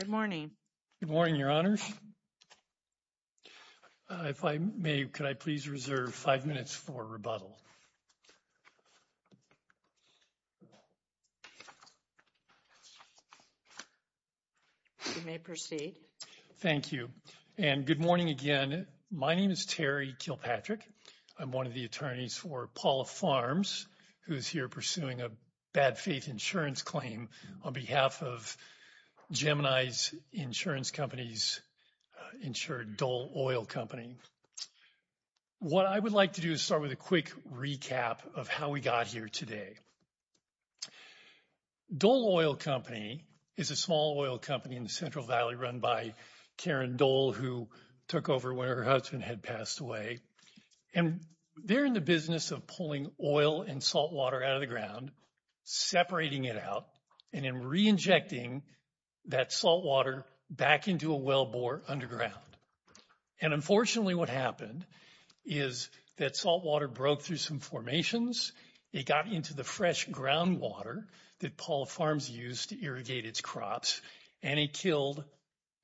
Good morning. Good morning, Your Honors. If I may, could I please reserve five minutes for rebuttal? You may proceed. Thank you, and good morning again. My name is Terry Kilpatrick. I'm one of the attorneys for Palla Farms, who's here pursuing a bad faith insurance claim on behalf of Gemini's insurance company's insured Dole Oil Company. What I would like to do is start with a quick recap of how we got here today. Dole Oil Company is a small oil company in the Central Valley run by Karen Dole, who took over when her husband had passed away. And they're in the business of pulling oil and saltwater out of the ground, separating it out, and then re-injecting that saltwater back into a well bore underground. And unfortunately, what happened is that saltwater broke through some formations, it got into the fresh groundwater that Palla Farms used to irrigate its crops, and it killed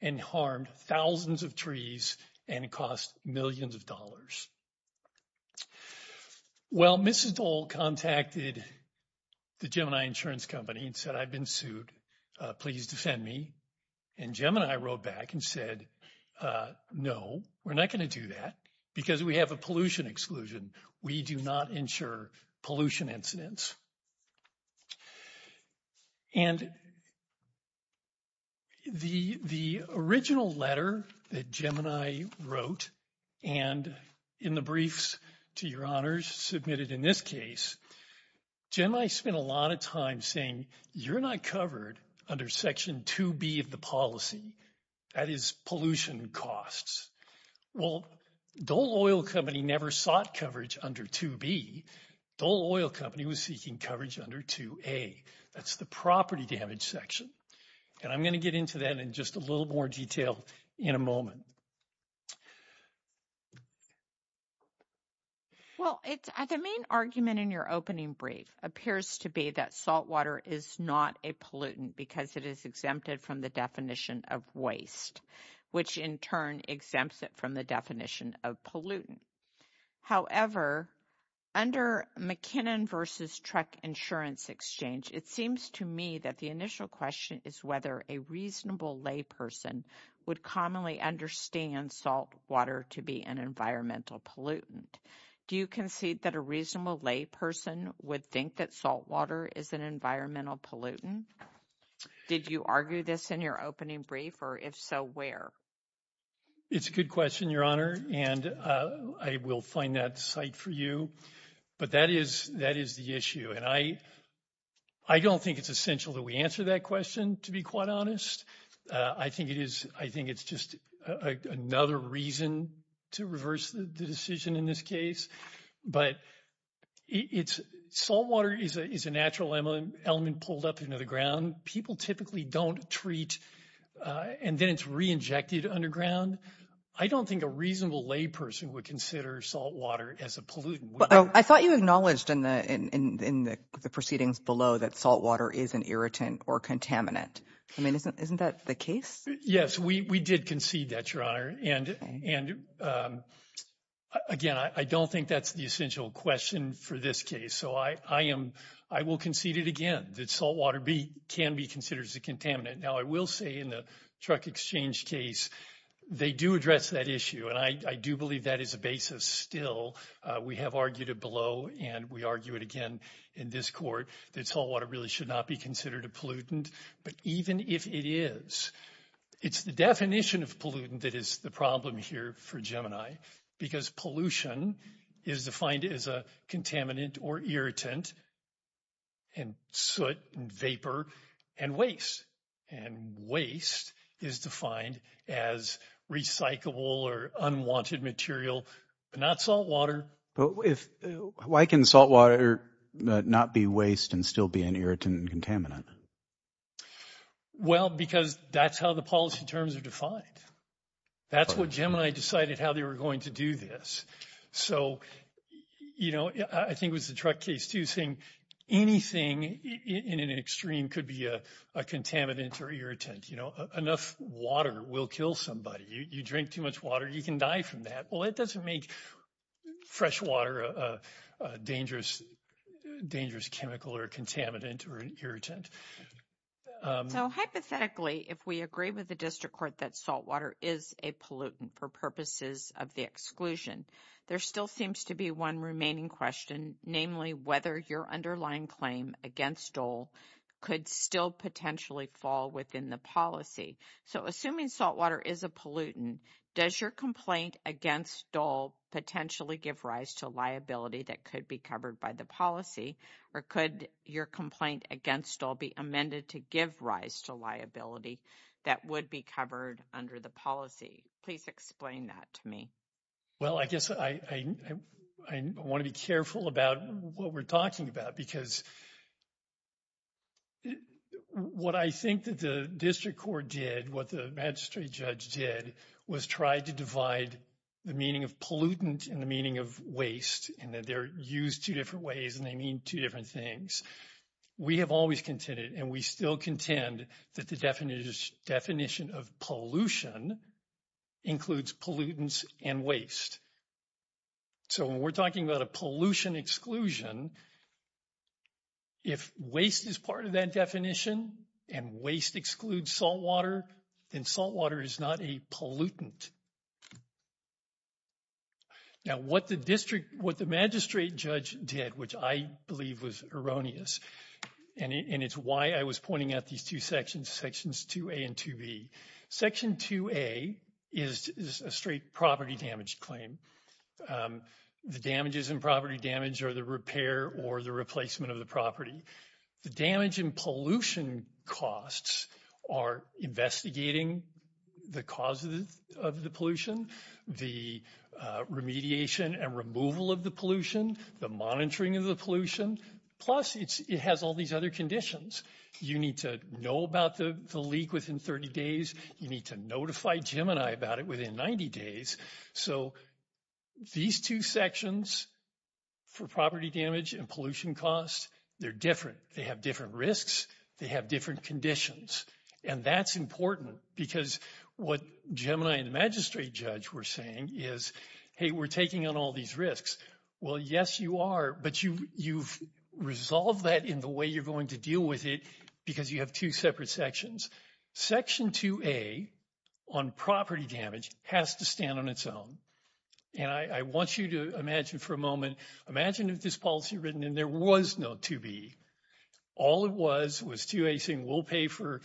and harmed thousands of trees, and it cost millions of dollars. Well, Mrs. Dole contacted the Gemini insurance company and said, I've been sued, please defend me. And Gemini wrote back and said, no, we're not going to do that, because we have a pollution exclusion. We do not insure pollution incidents. And the original letter that Gemini wrote, and in the briefs, to your honors, submitted in this case, Gemini spent a lot of time saying, you're not covered under Section 2B of the policy, that is pollution costs. Well, Dole Oil Company never sought coverage under 2B. Dole Oil Company was seeking coverage under 2A. That's the property damage section. And I'm going to get into that in just a little more detail in a moment. Well, the main argument in your opening brief appears to be that saltwater is not a pollutant because it is exempted from the definition of waste, which in turn exempts it from the definition of pollutant. However, under McKinnon versus Trek Insurance Exchange, it seems to me that the initial question is whether a reasonable layperson would commonly understand salt water to be an environmental pollutant. Do you concede that a reasonable layperson would think that saltwater is an environmental pollutant? Did you argue this in your opening brief, or if so, where? It's a good question, your honor, and I will find that site for you. But that is the issue. And I don't think it's essential that we answer that question, to be quite honest. I think it's just another reason to reverse the decision in this case. But saltwater is a natural element pulled up into the ground. People typically don't treat, and then it's re-injected underground. I don't think a reasonable layperson would consider saltwater as a pollutant. I thought you acknowledged in the proceedings below that saltwater is an irritant or contaminant. I mean, isn't that the case? Yes, we did concede that, your honor. And again, I don't think that's the essential question for this case. So I will concede it again, that saltwater can be considered as a contaminant. Now, I will say in the truck exchange case, they do address that issue. And I do believe that is a basis. Still, we have argued it below, and we argue it again in this court, that saltwater really should not be considered a pollutant. But even if it is, it's the definition of pollutant that is the problem here for Gemini, because pollution is defined as a contaminant or irritant, and soot and vapor and waste. And waste is defined as recyclable or unwanted material, but not saltwater. But why can saltwater not be waste and still be an irritant and contaminant? Well, because that's how the policy terms are defined. That's what Gemini decided how they were going to do this. So, you know, I think it was the truck case too, saying anything in an extreme could be a contaminant or irritant. You know, enough water will kill somebody. You drink too much water, you can die from that. Well, it doesn't make fresh water a dangerous chemical or contaminant or an irritant. So, hypothetically, if we agree with the district court that saltwater is a pollutant for purposes of the exclusion, there still seems to be one remaining question, namely whether your underlying claim against Dole could still potentially fall within the policy. So, assuming saltwater is a pollutant, does your complaint against Dole potentially give rise to liability that could be covered by the policy? Or could your complaint against Dole be amended to give rise to liability that would be covered under the policy? Please explain that to me. Well, I guess I want to be careful about what we're talking about because what I think that the district court did, what the magistrate judge did, was try to divide the meaning of pollutant and the meaning of waste and that they're used two different ways and they mean two different things. We have always contended, and we still contend, that the definition of pollution includes pollutants and waste. So, when we're talking about a pollution exclusion, if waste is part of that definition and waste excludes saltwater, then saltwater is not a pollutant. Now, what the district, what the magistrate judge did, which I believe was erroneous, and it's why I was pointing out these two sections, sections 2a and 2b. Section 2a is a straight property damage claim. The damages and property damage are the or the replacement of the property. The damage and pollution costs are investigating the cause of the pollution, the remediation and removal of the pollution, the monitoring of the pollution, plus it has all these other conditions. You need to know about the leak within 30 days. You need to notify Gemini about it within 90 days. So, these two sections for property damage and pollution costs, they're different. They have different risks. They have different conditions. And that's important because what Gemini and the magistrate judge were saying is, hey, we're taking on all these risks. Well, yes, you are, but you've resolved that in the way you're going to deal with it because you have two separate sections. Section 2a on property damage has to stand on its own. And I want you to imagine for a moment, imagine if this policy written in there was no 2b. All it was was 2a saying we'll pay for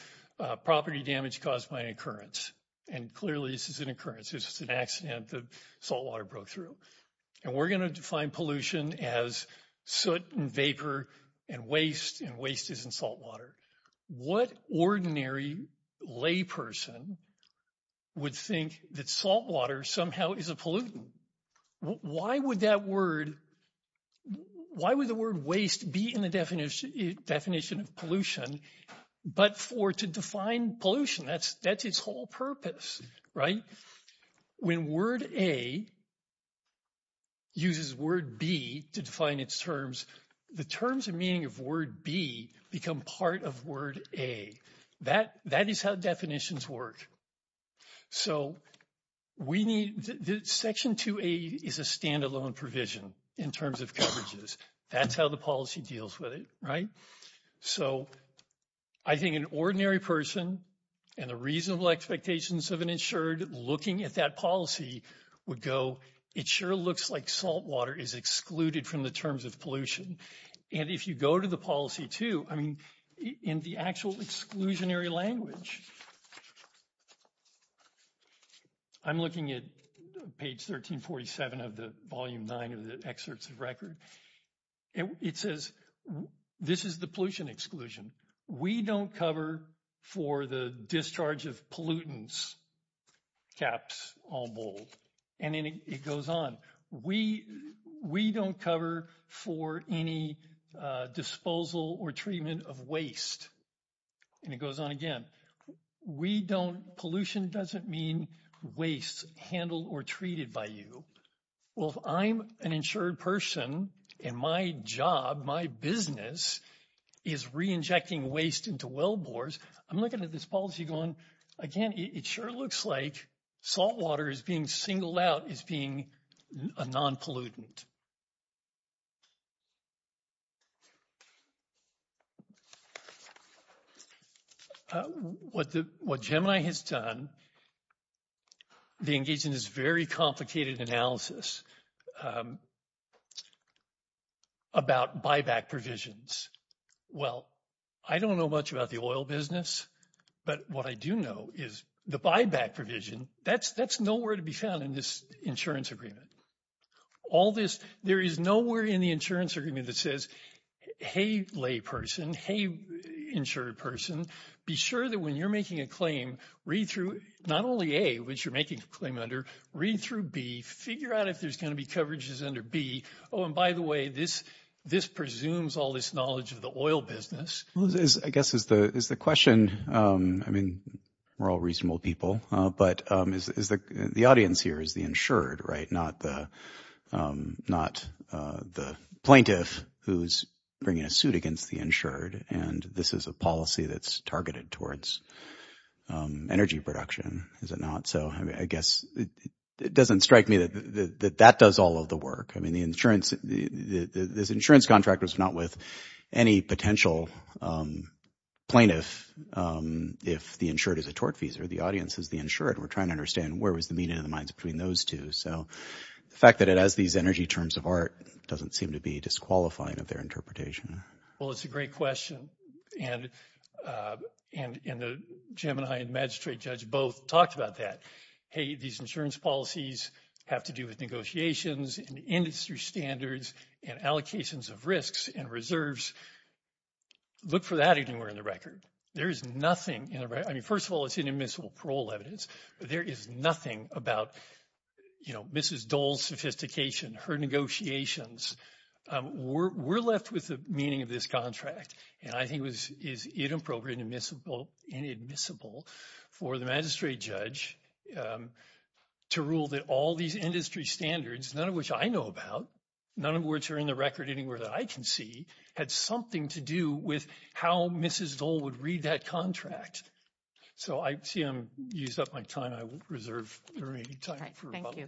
property damage caused by an occurrence. And clearly, this is an occurrence. This is an accident. The saltwater broke through. And we're going to define pollution as soot and vapor and waste, and waste is in saltwater. What ordinary layperson would think that saltwater somehow is a pollutant? Why would that word, why would the word waste be in the definition of pollution, but for to define pollution? That's its whole purpose, right? When word A uses word B to define its terms, the terms and meaning of word B become part of word A. That is how definitions work. So we need, section 2a is a standalone provision in terms of coverages. That's how the policy deals with it, right? So I think an ordinary person and the reasonable expectations of an insured looking at that policy would go, it sure looks like saltwater is excluded from the terms of pollution. And if you go to the policy too, I mean, in the actual exclusionary language, I'm looking at page 1347 of the volume 9 of the excerpts of record, and it says this is the pollution exclusion. We don't cover for the discharge of pollutants, caps all bold. And then it goes on. We don't cover for any disposal or treatment of waste. And it goes on again. We don't, pollution doesn't mean waste handled or treated by you. Well, if I'm an insured person and my job, my business is re-injecting waste into well bores, I'm looking at this policy going, again, it sure looks like saltwater is being singled out as being a non-pollutant. What Gemini has done, they engage in this very complicated analysis about buyback provisions. Well, I don't know much about the oil business, but what I do know is the buyback provision, that's nowhere to be found in this insurance agreement. There is nowhere in the insurance agreement that says, hey, lay person, hey, insured person, be sure that when you're making a claim, read through not only A, which you're making a claim under, read through B, figure out if there's going to be coverages under B. Oh, and by the way, this presumes all this knowledge of the oil business. I guess is the question, I mean, we're all reasonable people, but the audience here is the insured, right? Not the plaintiff who's bringing a suit against the insured. And this is a policy that's targeted towards energy production, is it not? So I guess it doesn't strike me that that does all of the work. I mean, the insurance, there's insurance contractors not with any potential plaintiff. If the insured is a tort fees or the audience is the insured, we're trying to understand where was the meeting of the minds between those two. So the fact that it has these energy terms of art doesn't seem to be disqualifying of their interpretation. Well, it's a great question. And the Gemini and magistrate judge both talked about that. Hey, these insurance policies have to do with negotiations and industry standards and allocations of risks and reserves. Look for that anywhere in the record. There is nothing in the record. I mean, first of all, it's inadmissible parole evidence, but there is nothing about, you know, Mrs. Dole's sophistication, her negotiations. We're left with the meaning of this contract. And I think it is inappropriate, inadmissible for the magistrate judge to rule that all these industry standards, none of which I know about, none of which are in the record anywhere that I can see, had something to do with how Mrs. Dole would read that contract. So I see I've used up my time. I won't reserve any time for rebuttal.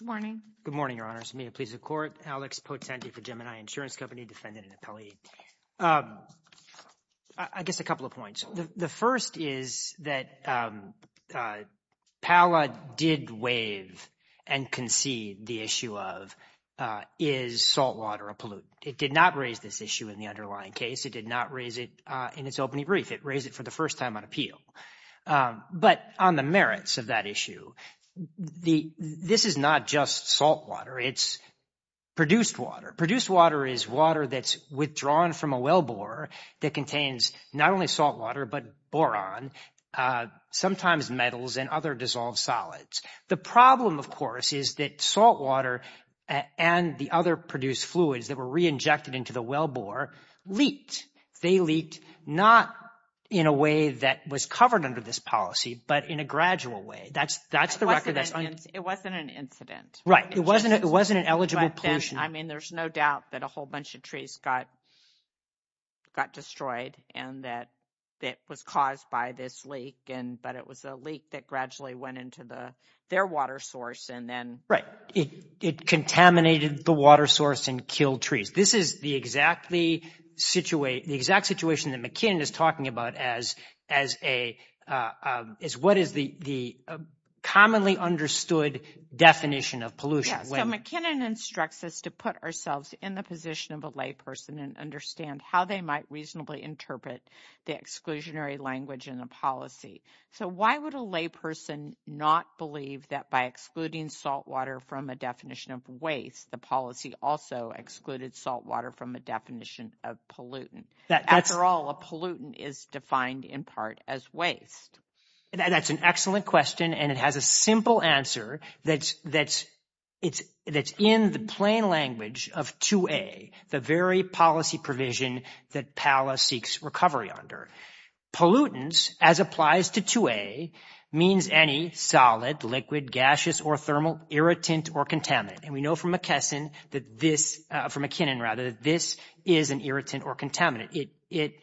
Good morning. Good morning, Your Honors. May it please the Court. Alex Potenti for Gemini Pala did waive and concede the issue of is saltwater a pollutant? It did not raise this issue in the underlying case. It did not raise it in its opening brief. It raised it for the first time on appeal. But on the merits of that issue, this is not just saltwater. It's produced water. Produced water is water that's withdrawn from a well borer that contains not only saltwater, but boron, sometimes metals and other dissolved solids. The problem, of course, is that saltwater and the other produced fluids that were re-injected into the well borer leaked. They leaked not in a way that was covered under this policy, but in a gradual way. It wasn't an incident. Right. It wasn't an eligible pollution. I mean, there's no doubt that a whole bunch of trees got destroyed and that was caused by this leak. But it was a leak that gradually went into their water source and then... Right. It contaminated the water source and killed trees. This is the exact situation that McKinnon is talking about as what is the commonly understood definition of pollution. Yes. So McKinnon instructs us to put ourselves position of a layperson and understand how they might reasonably interpret the exclusionary language in the policy. So why would a layperson not believe that by excluding saltwater from a definition of waste, the policy also excluded saltwater from a definition of pollutant? After all, a pollutant is defined in part as waste. That's an excellent question. And it has a simple answer that's in the plain language of 2A, the very policy provision that PALA seeks recovery under. Pollutants, as applies to 2A, means any solid, liquid, gaseous or thermal, irritant or contaminant. And we know from McKinnon that this is an irritant or contaminant. It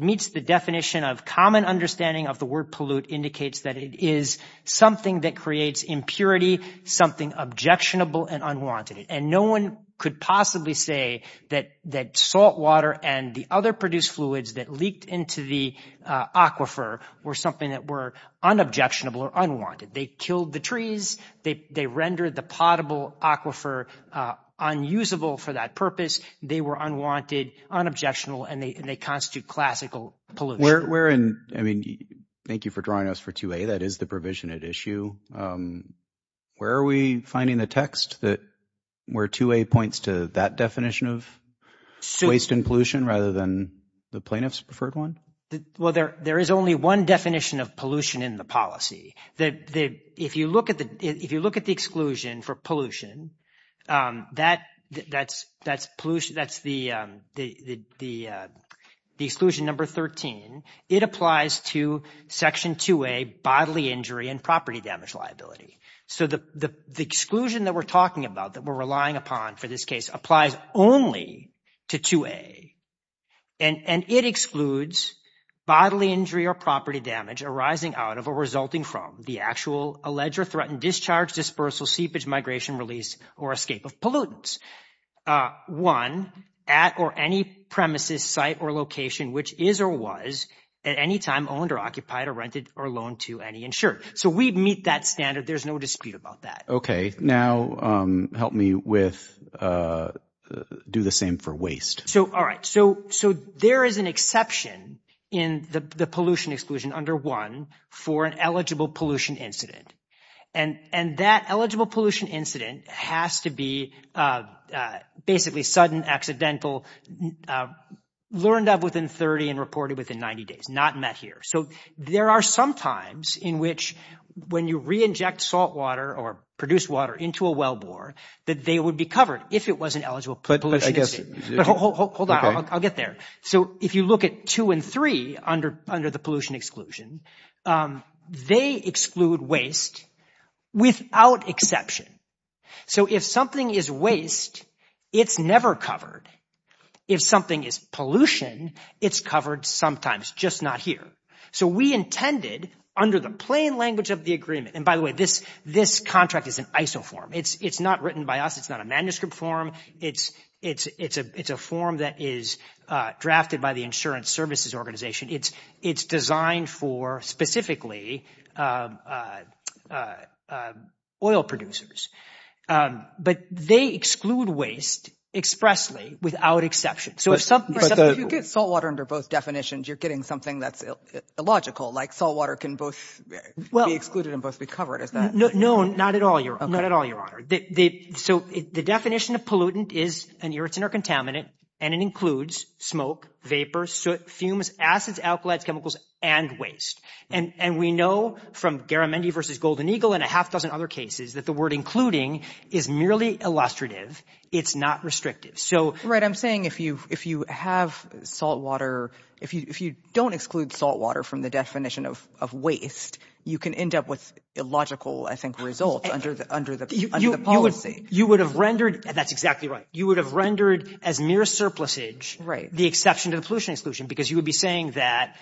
meets the definition of common understanding of the word pollute indicates that it is something that creates impurity, something objectionable and unwanted. And no one could possibly say that that saltwater and the other produced fluids that leaked into the aquifer were something that were unobjectionable or unwanted. They killed the trees. They rendered the potable aquifer unusable for that purpose. They were unwanted, unobjectional, and they constitute classical pollution. Thank you for drawing us for 2A. That is the provision at issue. Where are we finding the text that where 2A points to that definition of waste and pollution rather than the plaintiff's preferred one? Well, there is only one definition of pollution in the policy. If you look at the exclusion for pollution, that is the exclusion number 13. It applies to Section 2A bodily injury and property damage liability. So the exclusion that we are talking about that we are relying upon for this case applies only to 2A. And it excludes bodily injury or property damage arising out of or resulting from the actual alleged or threatened discharge, dispersal, seepage, migration, release, or escape of pollutants. One at or any premises, site, or location which is or was at any time owned or occupied or rented or loaned to any insured. So we meet that standard. There is no dispute about that. Okay. Now help me with – do the same for waste. All right. So there is an exception in the pollution exclusion under 1 for an eligible pollution incident. And that eligible pollution incident has to be basically sudden, accidental, learned of within 30 and reported within 90 days, not met here. So there are some times in which when you re-inject salt water or produce water into a well bore, that they would be covered if it was an eligible pollution incident. But I guess – Hold on. I will get there. So if you look at 2 and 3 under the pollution exclusion, they exclude waste without exception. So if something is waste, it is never covered. If something is pollution, it is covered sometimes, just not here. So we intended, under the plain language of the agreement – and by the way, this contract is an ISO form. It is not written by us. It is not a manuscript form. It is a form that is drafted by the insurance services organization. It is designed for specifically oil producers. But they exclude waste expressly without exception. So if something – You get salt water under both definitions. You are getting something that is illogical, like salt water can both be excluded and both be covered. Is that – No, not at all, Your Honor. Not at all, Your Honor. So the definition of pollutant is an irritant or contaminant and it includes smoke, vapor, soot, fumes, acids, alkalides, chemicals and waste. And we know from Garamendi versus Golden Eagle and a half dozen other cases that the word including is merely illustrative. It is not restrictive. So – If you don't exclude salt water from the definition of waste, you can end up with illogical, I think, results under the policy. You would have rendered – that is exactly right. You would have rendered as mere surplusage the exception to the pollution exclusion because you would be saying that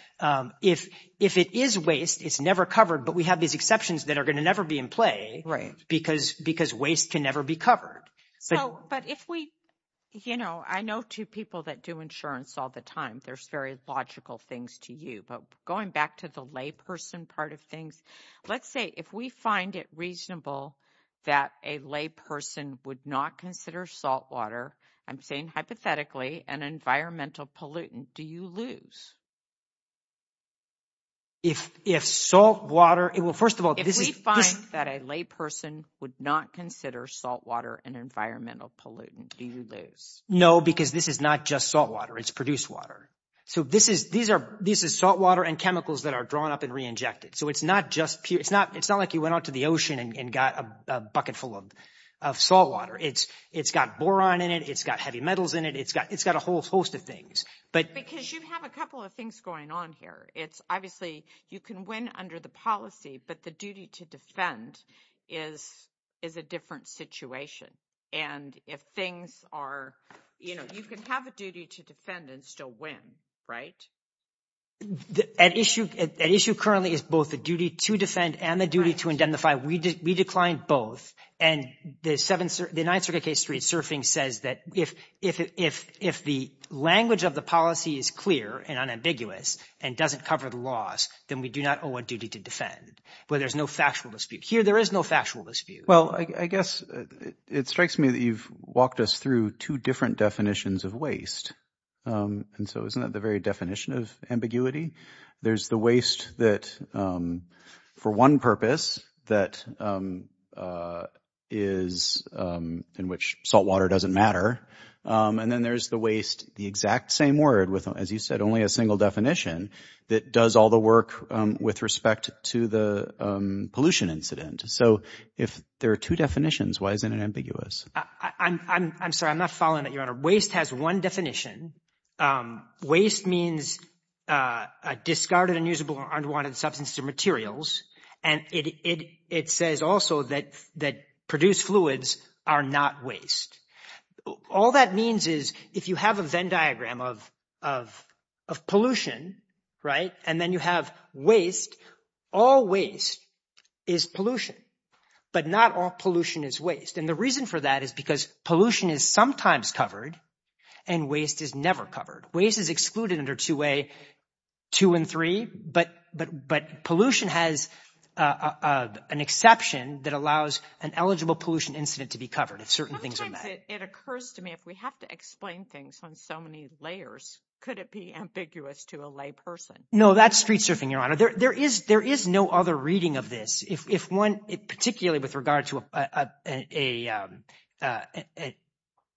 if it is waste, it is never covered, but we have these exceptions that are going to never be in play because waste can never be covered. So – but if we – I know two people that do insurance all the time. There are very illogical things to you, but going back to the layperson part of things, let's say if we find it reasonable that a layperson would not consider salt water, I'm saying hypothetically, an environmental pollutant, do you lose? If salt water – well, first of all – If we find that a layperson would not consider salt water an environmental pollutant, do you lose? No, because this is not just salt water. It is produced water. So this is – these are – this is salt water and chemicals that are drawn up and reinjected. So it is not just – it is not like you went out to the ocean and got a bucket full of salt water. It has got boron in it. It has got heavy metals in it. It has got a whole host of things. But – Because you have a couple of things going on here. It is – obviously, you can win under the policy, but the duty to defend is a different situation. And if things are – you know, you can have a duty to defend and still win, right? At issue – at issue currently is both the duty to defend and the duty to identify. We declined both. And the Seventh – the Ninth Circuit case, Street Surfing, says that if the language of the policy is clear and unambiguous and doesn't cover the laws, then we do not owe a duty to defend, where there is no factual dispute. Here, there is no factual dispute. Well, I guess it strikes me that you have walked us through two different definitions of waste. And so isn't that the very definition of ambiguity? There is the waste that – for one purpose, that is – in which salt water doesn't matter. And then there is the waste – the exact same word with, as you said, only a single definition that does all the work with respect to the pollution incident. So if there are two definitions, why isn't it ambiguous? I'm sorry. I'm not following that, Your Honor. Waste has one definition. Waste means a discarded, unusable, or unwanted substance or materials. And it says also that produced fluids are not waste. All that means is if you have a Venn diagram of pollution, right, and then you have waste, all waste is pollution, but not all pollution is waste. And the reason for that is because pollution is sometimes covered and waste is never covered. Waste is excluded under 2A, 2 and 3, but pollution has an exception that allows an eligible pollution incident to be covered if certain things are met. Sometimes it occurs to me, if we have to explain things on so many layers, could it be ambiguous to a layperson? No, that's street-surfing, Your Honor. There is no other reading of this. If one – particularly with regard to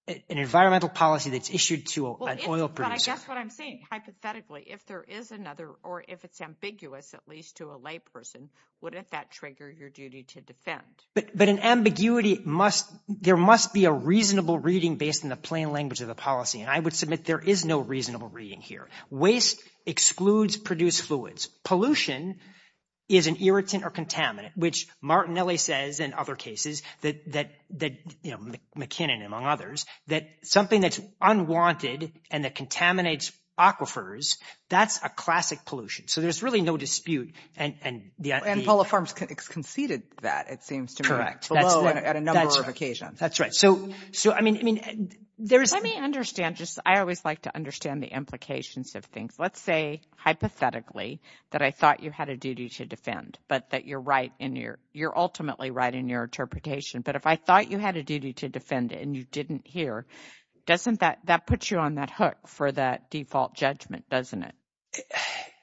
an environmental policy that's issued to an oil producer. That's what I'm saying. Hypothetically, if there is another or if it's ambiguous, at least to a layperson, wouldn't that trigger your duty to defend? But an ambiguity must – there must be a reasonable reading based on the plain language of the policy. And I would submit there is no reasonable reading here. Waste excludes produced fluids. Pollution is an irritant or contaminant, which Martinelli says in other cases that, you know, McKinnon among others, that something that's unwanted and that contaminates aquifers, that's a classic pollution. So there's really no dispute. And Paula Farms conceded that, it seems to me. Below at a number of occasions. That's right. So, I mean, there's – Let me understand. I always like to understand the implications of things. Let's say, hypothetically, that I thought you had a duty to defend, but that you're right in your – you're ultimately right in your interpretation. But if I thought you had a duty to defend and you didn't hear, doesn't that – that puts you on that hook for that default judgment, doesn't it?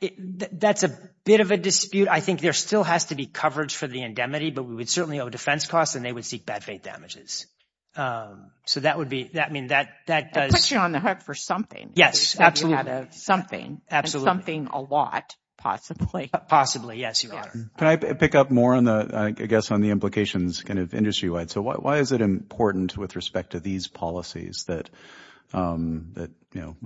It – that's a bit of a dispute. I think there still has to be coverage for the indemnity, but we would certainly owe defense costs and they would seek bad fate damages. So that would be – I mean, that does – That puts you on the hook for something. Yes. Except you had a something. Absolutely. And something a lot, possibly. Possibly. Yes, you are. Can I pick up more on the – I guess on the implications kind of industry-wide? So why is it important with respect to these policies that, you know,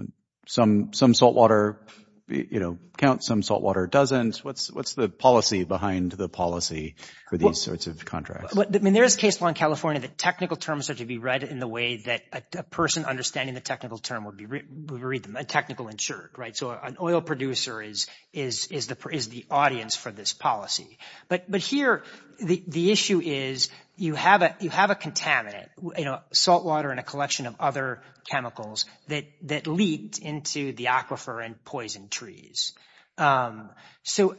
some saltwater, you know, counts, some saltwater doesn't? What's the policy behind the policy for these sorts of contracts? I mean, there is a case law in California that technical terms are to be read in the way that a person understanding the technical term would be – would read them a technical insured, right? So an oil producer is the audience for this policy. But here, the issue is you have a contaminant, you know, saltwater and a collection of other chemicals that leaked into the aquifer and poison trees. So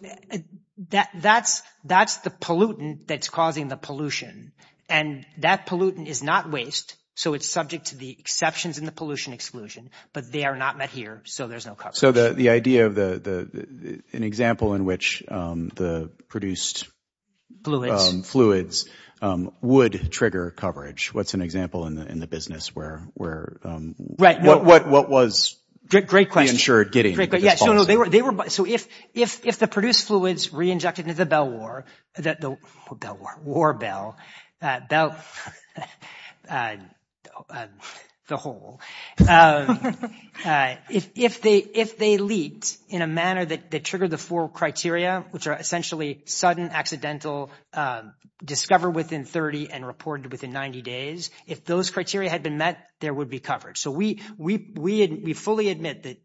that's the pollutant that's causing the pollution and that pollutant is not waste, so it's subject to the exceptions in the pollution exclusion, but they are not met here, so there's no coverage. So the idea of the – an example in which the produced – Fluids. Fluids would trigger coverage. What's an example in the business where – Right. What was – Great question. – insured getting this policy? Great, great. Yeah, so no, they were – so if the produced fluids re-injected into the bell ore – well, bell ore, war bell, bell – the hole. If they leaked in a manner that triggered the four discover within 30 and reported within 90 days, if those criteria had been met, there would be coverage. So we fully admit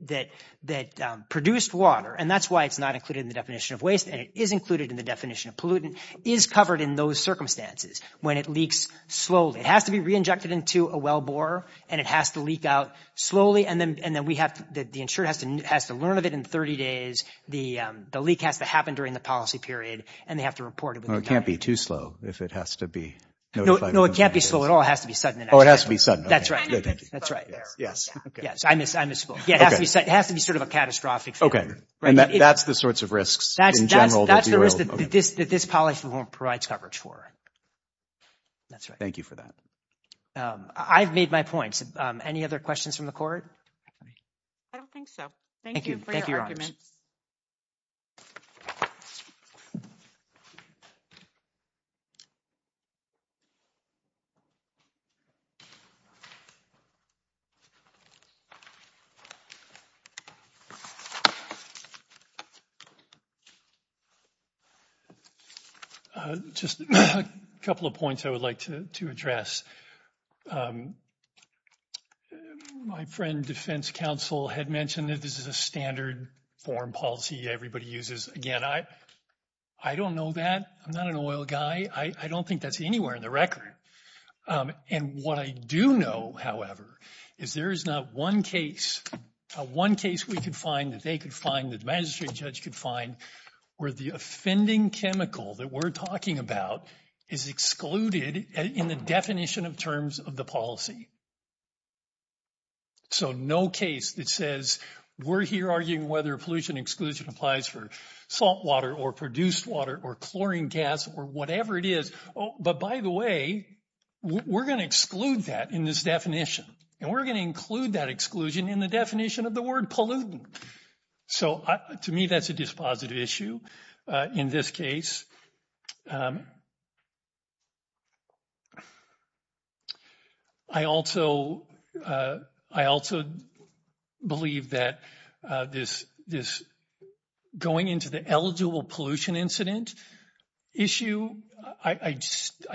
that produced water – and that's why it's not included in the definition of waste and it is included in the definition of pollutant – is covered in those circumstances when it leaks slowly. It has to be re-injected into a well borer and it has to leak out slowly and then we have – the insured has to learn of it in 30 days, the leak has to happen during the policy period, and they have to report it within 90 days. So it can't be too slow if it has to be notified – No, it can't be slow at all. It has to be sudden. Oh, it has to be sudden. That's right. That's right. Yes, okay. Yes, I misspoke. It has to be sort of a catastrophic failure. Okay, and that's the sorts of risks in general that you're able to – That's the risks that this policy reform provides coverage for. That's right. Thank you for that. I've made my points. Any other questions from the court? I don't think so. Thank you for your arguments. Thank you. Thank you, Your Honors. Just a couple of points I would like to address. My friend, defense counsel, had mentioned that this is a standard foreign policy everybody uses. Again, I don't know that. I'm not an oil guy. I don't think that's anywhere in the record. And what I do know, however, is there is not one case, one case we could find that they could find, that the magistrate judge could find, where the offending chemical that we're talking about is excluded in the definition of terms of the policy. So, no case that says, we're here arguing whether pollution exclusion applies for saltwater or produced water or chlorine gas or whatever it is. Oh, but by the way, we're going to exclude that in this definition. And we're going to include that exclusion in the definition of the word pollutant. So, to me, that's a dispositive issue in this case. I also believe that this going into the eligible pollution incident issue, I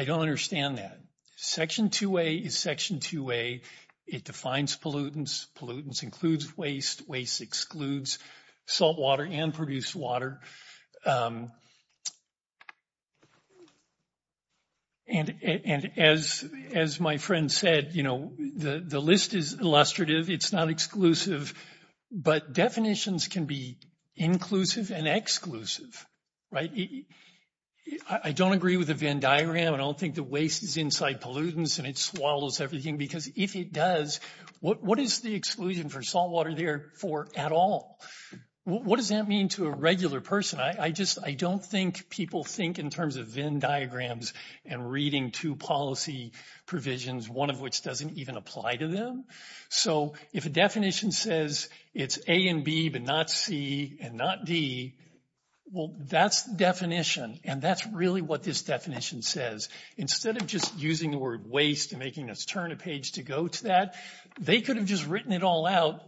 don't understand that. Section 2A is Section 2A. It defines pollutants. Pollutants includes waste. Waste excludes saltwater and produced water. And as my friend said, you know, the list is illustrative. It's not exclusive, but definitions can be inclusive and exclusive, right? I don't agree with the Venn diagram. I don't think the waste is inside pollutants and it swallows everything. Because if it does, what is the exclusion for saltwater there for at all? What does that mean to a regular person? I don't think people think in terms of Venn diagrams and reading two policy provisions, one of which doesn't even apply to them. So, if a definition says it's A and B but not C and not D, well, that's the definition. And that's really what this definition says. Instead of just using the word waste and making us turn a page to go to that, they could have just written it all out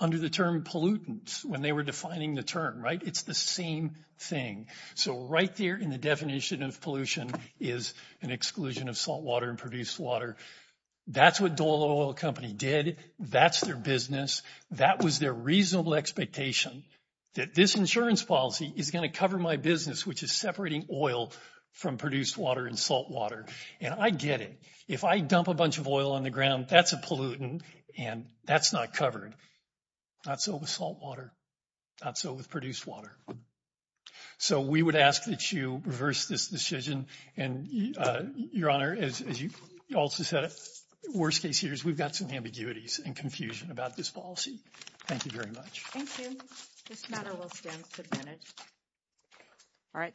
under the term pollutants when they were defining the term, right? It's the same thing. So, right there in the definition of pollution is an exclusion of saltwater and produced water. That's what Doyle Oil Company did. That's their business. That was their reasonable expectation that this insurance policy is going to cover my business, which is separating oil from produced water and saltwater. And I get it. If I dump a bunch of oil on the ground, that's a pollutant and that's not covered. Not so with saltwater. Not so with produced water. So, we would ask that you reverse this decision. And, Your Honor, as you also said, the worst case here is we've got some ambiguities and confusion about this policy. Thank you very much.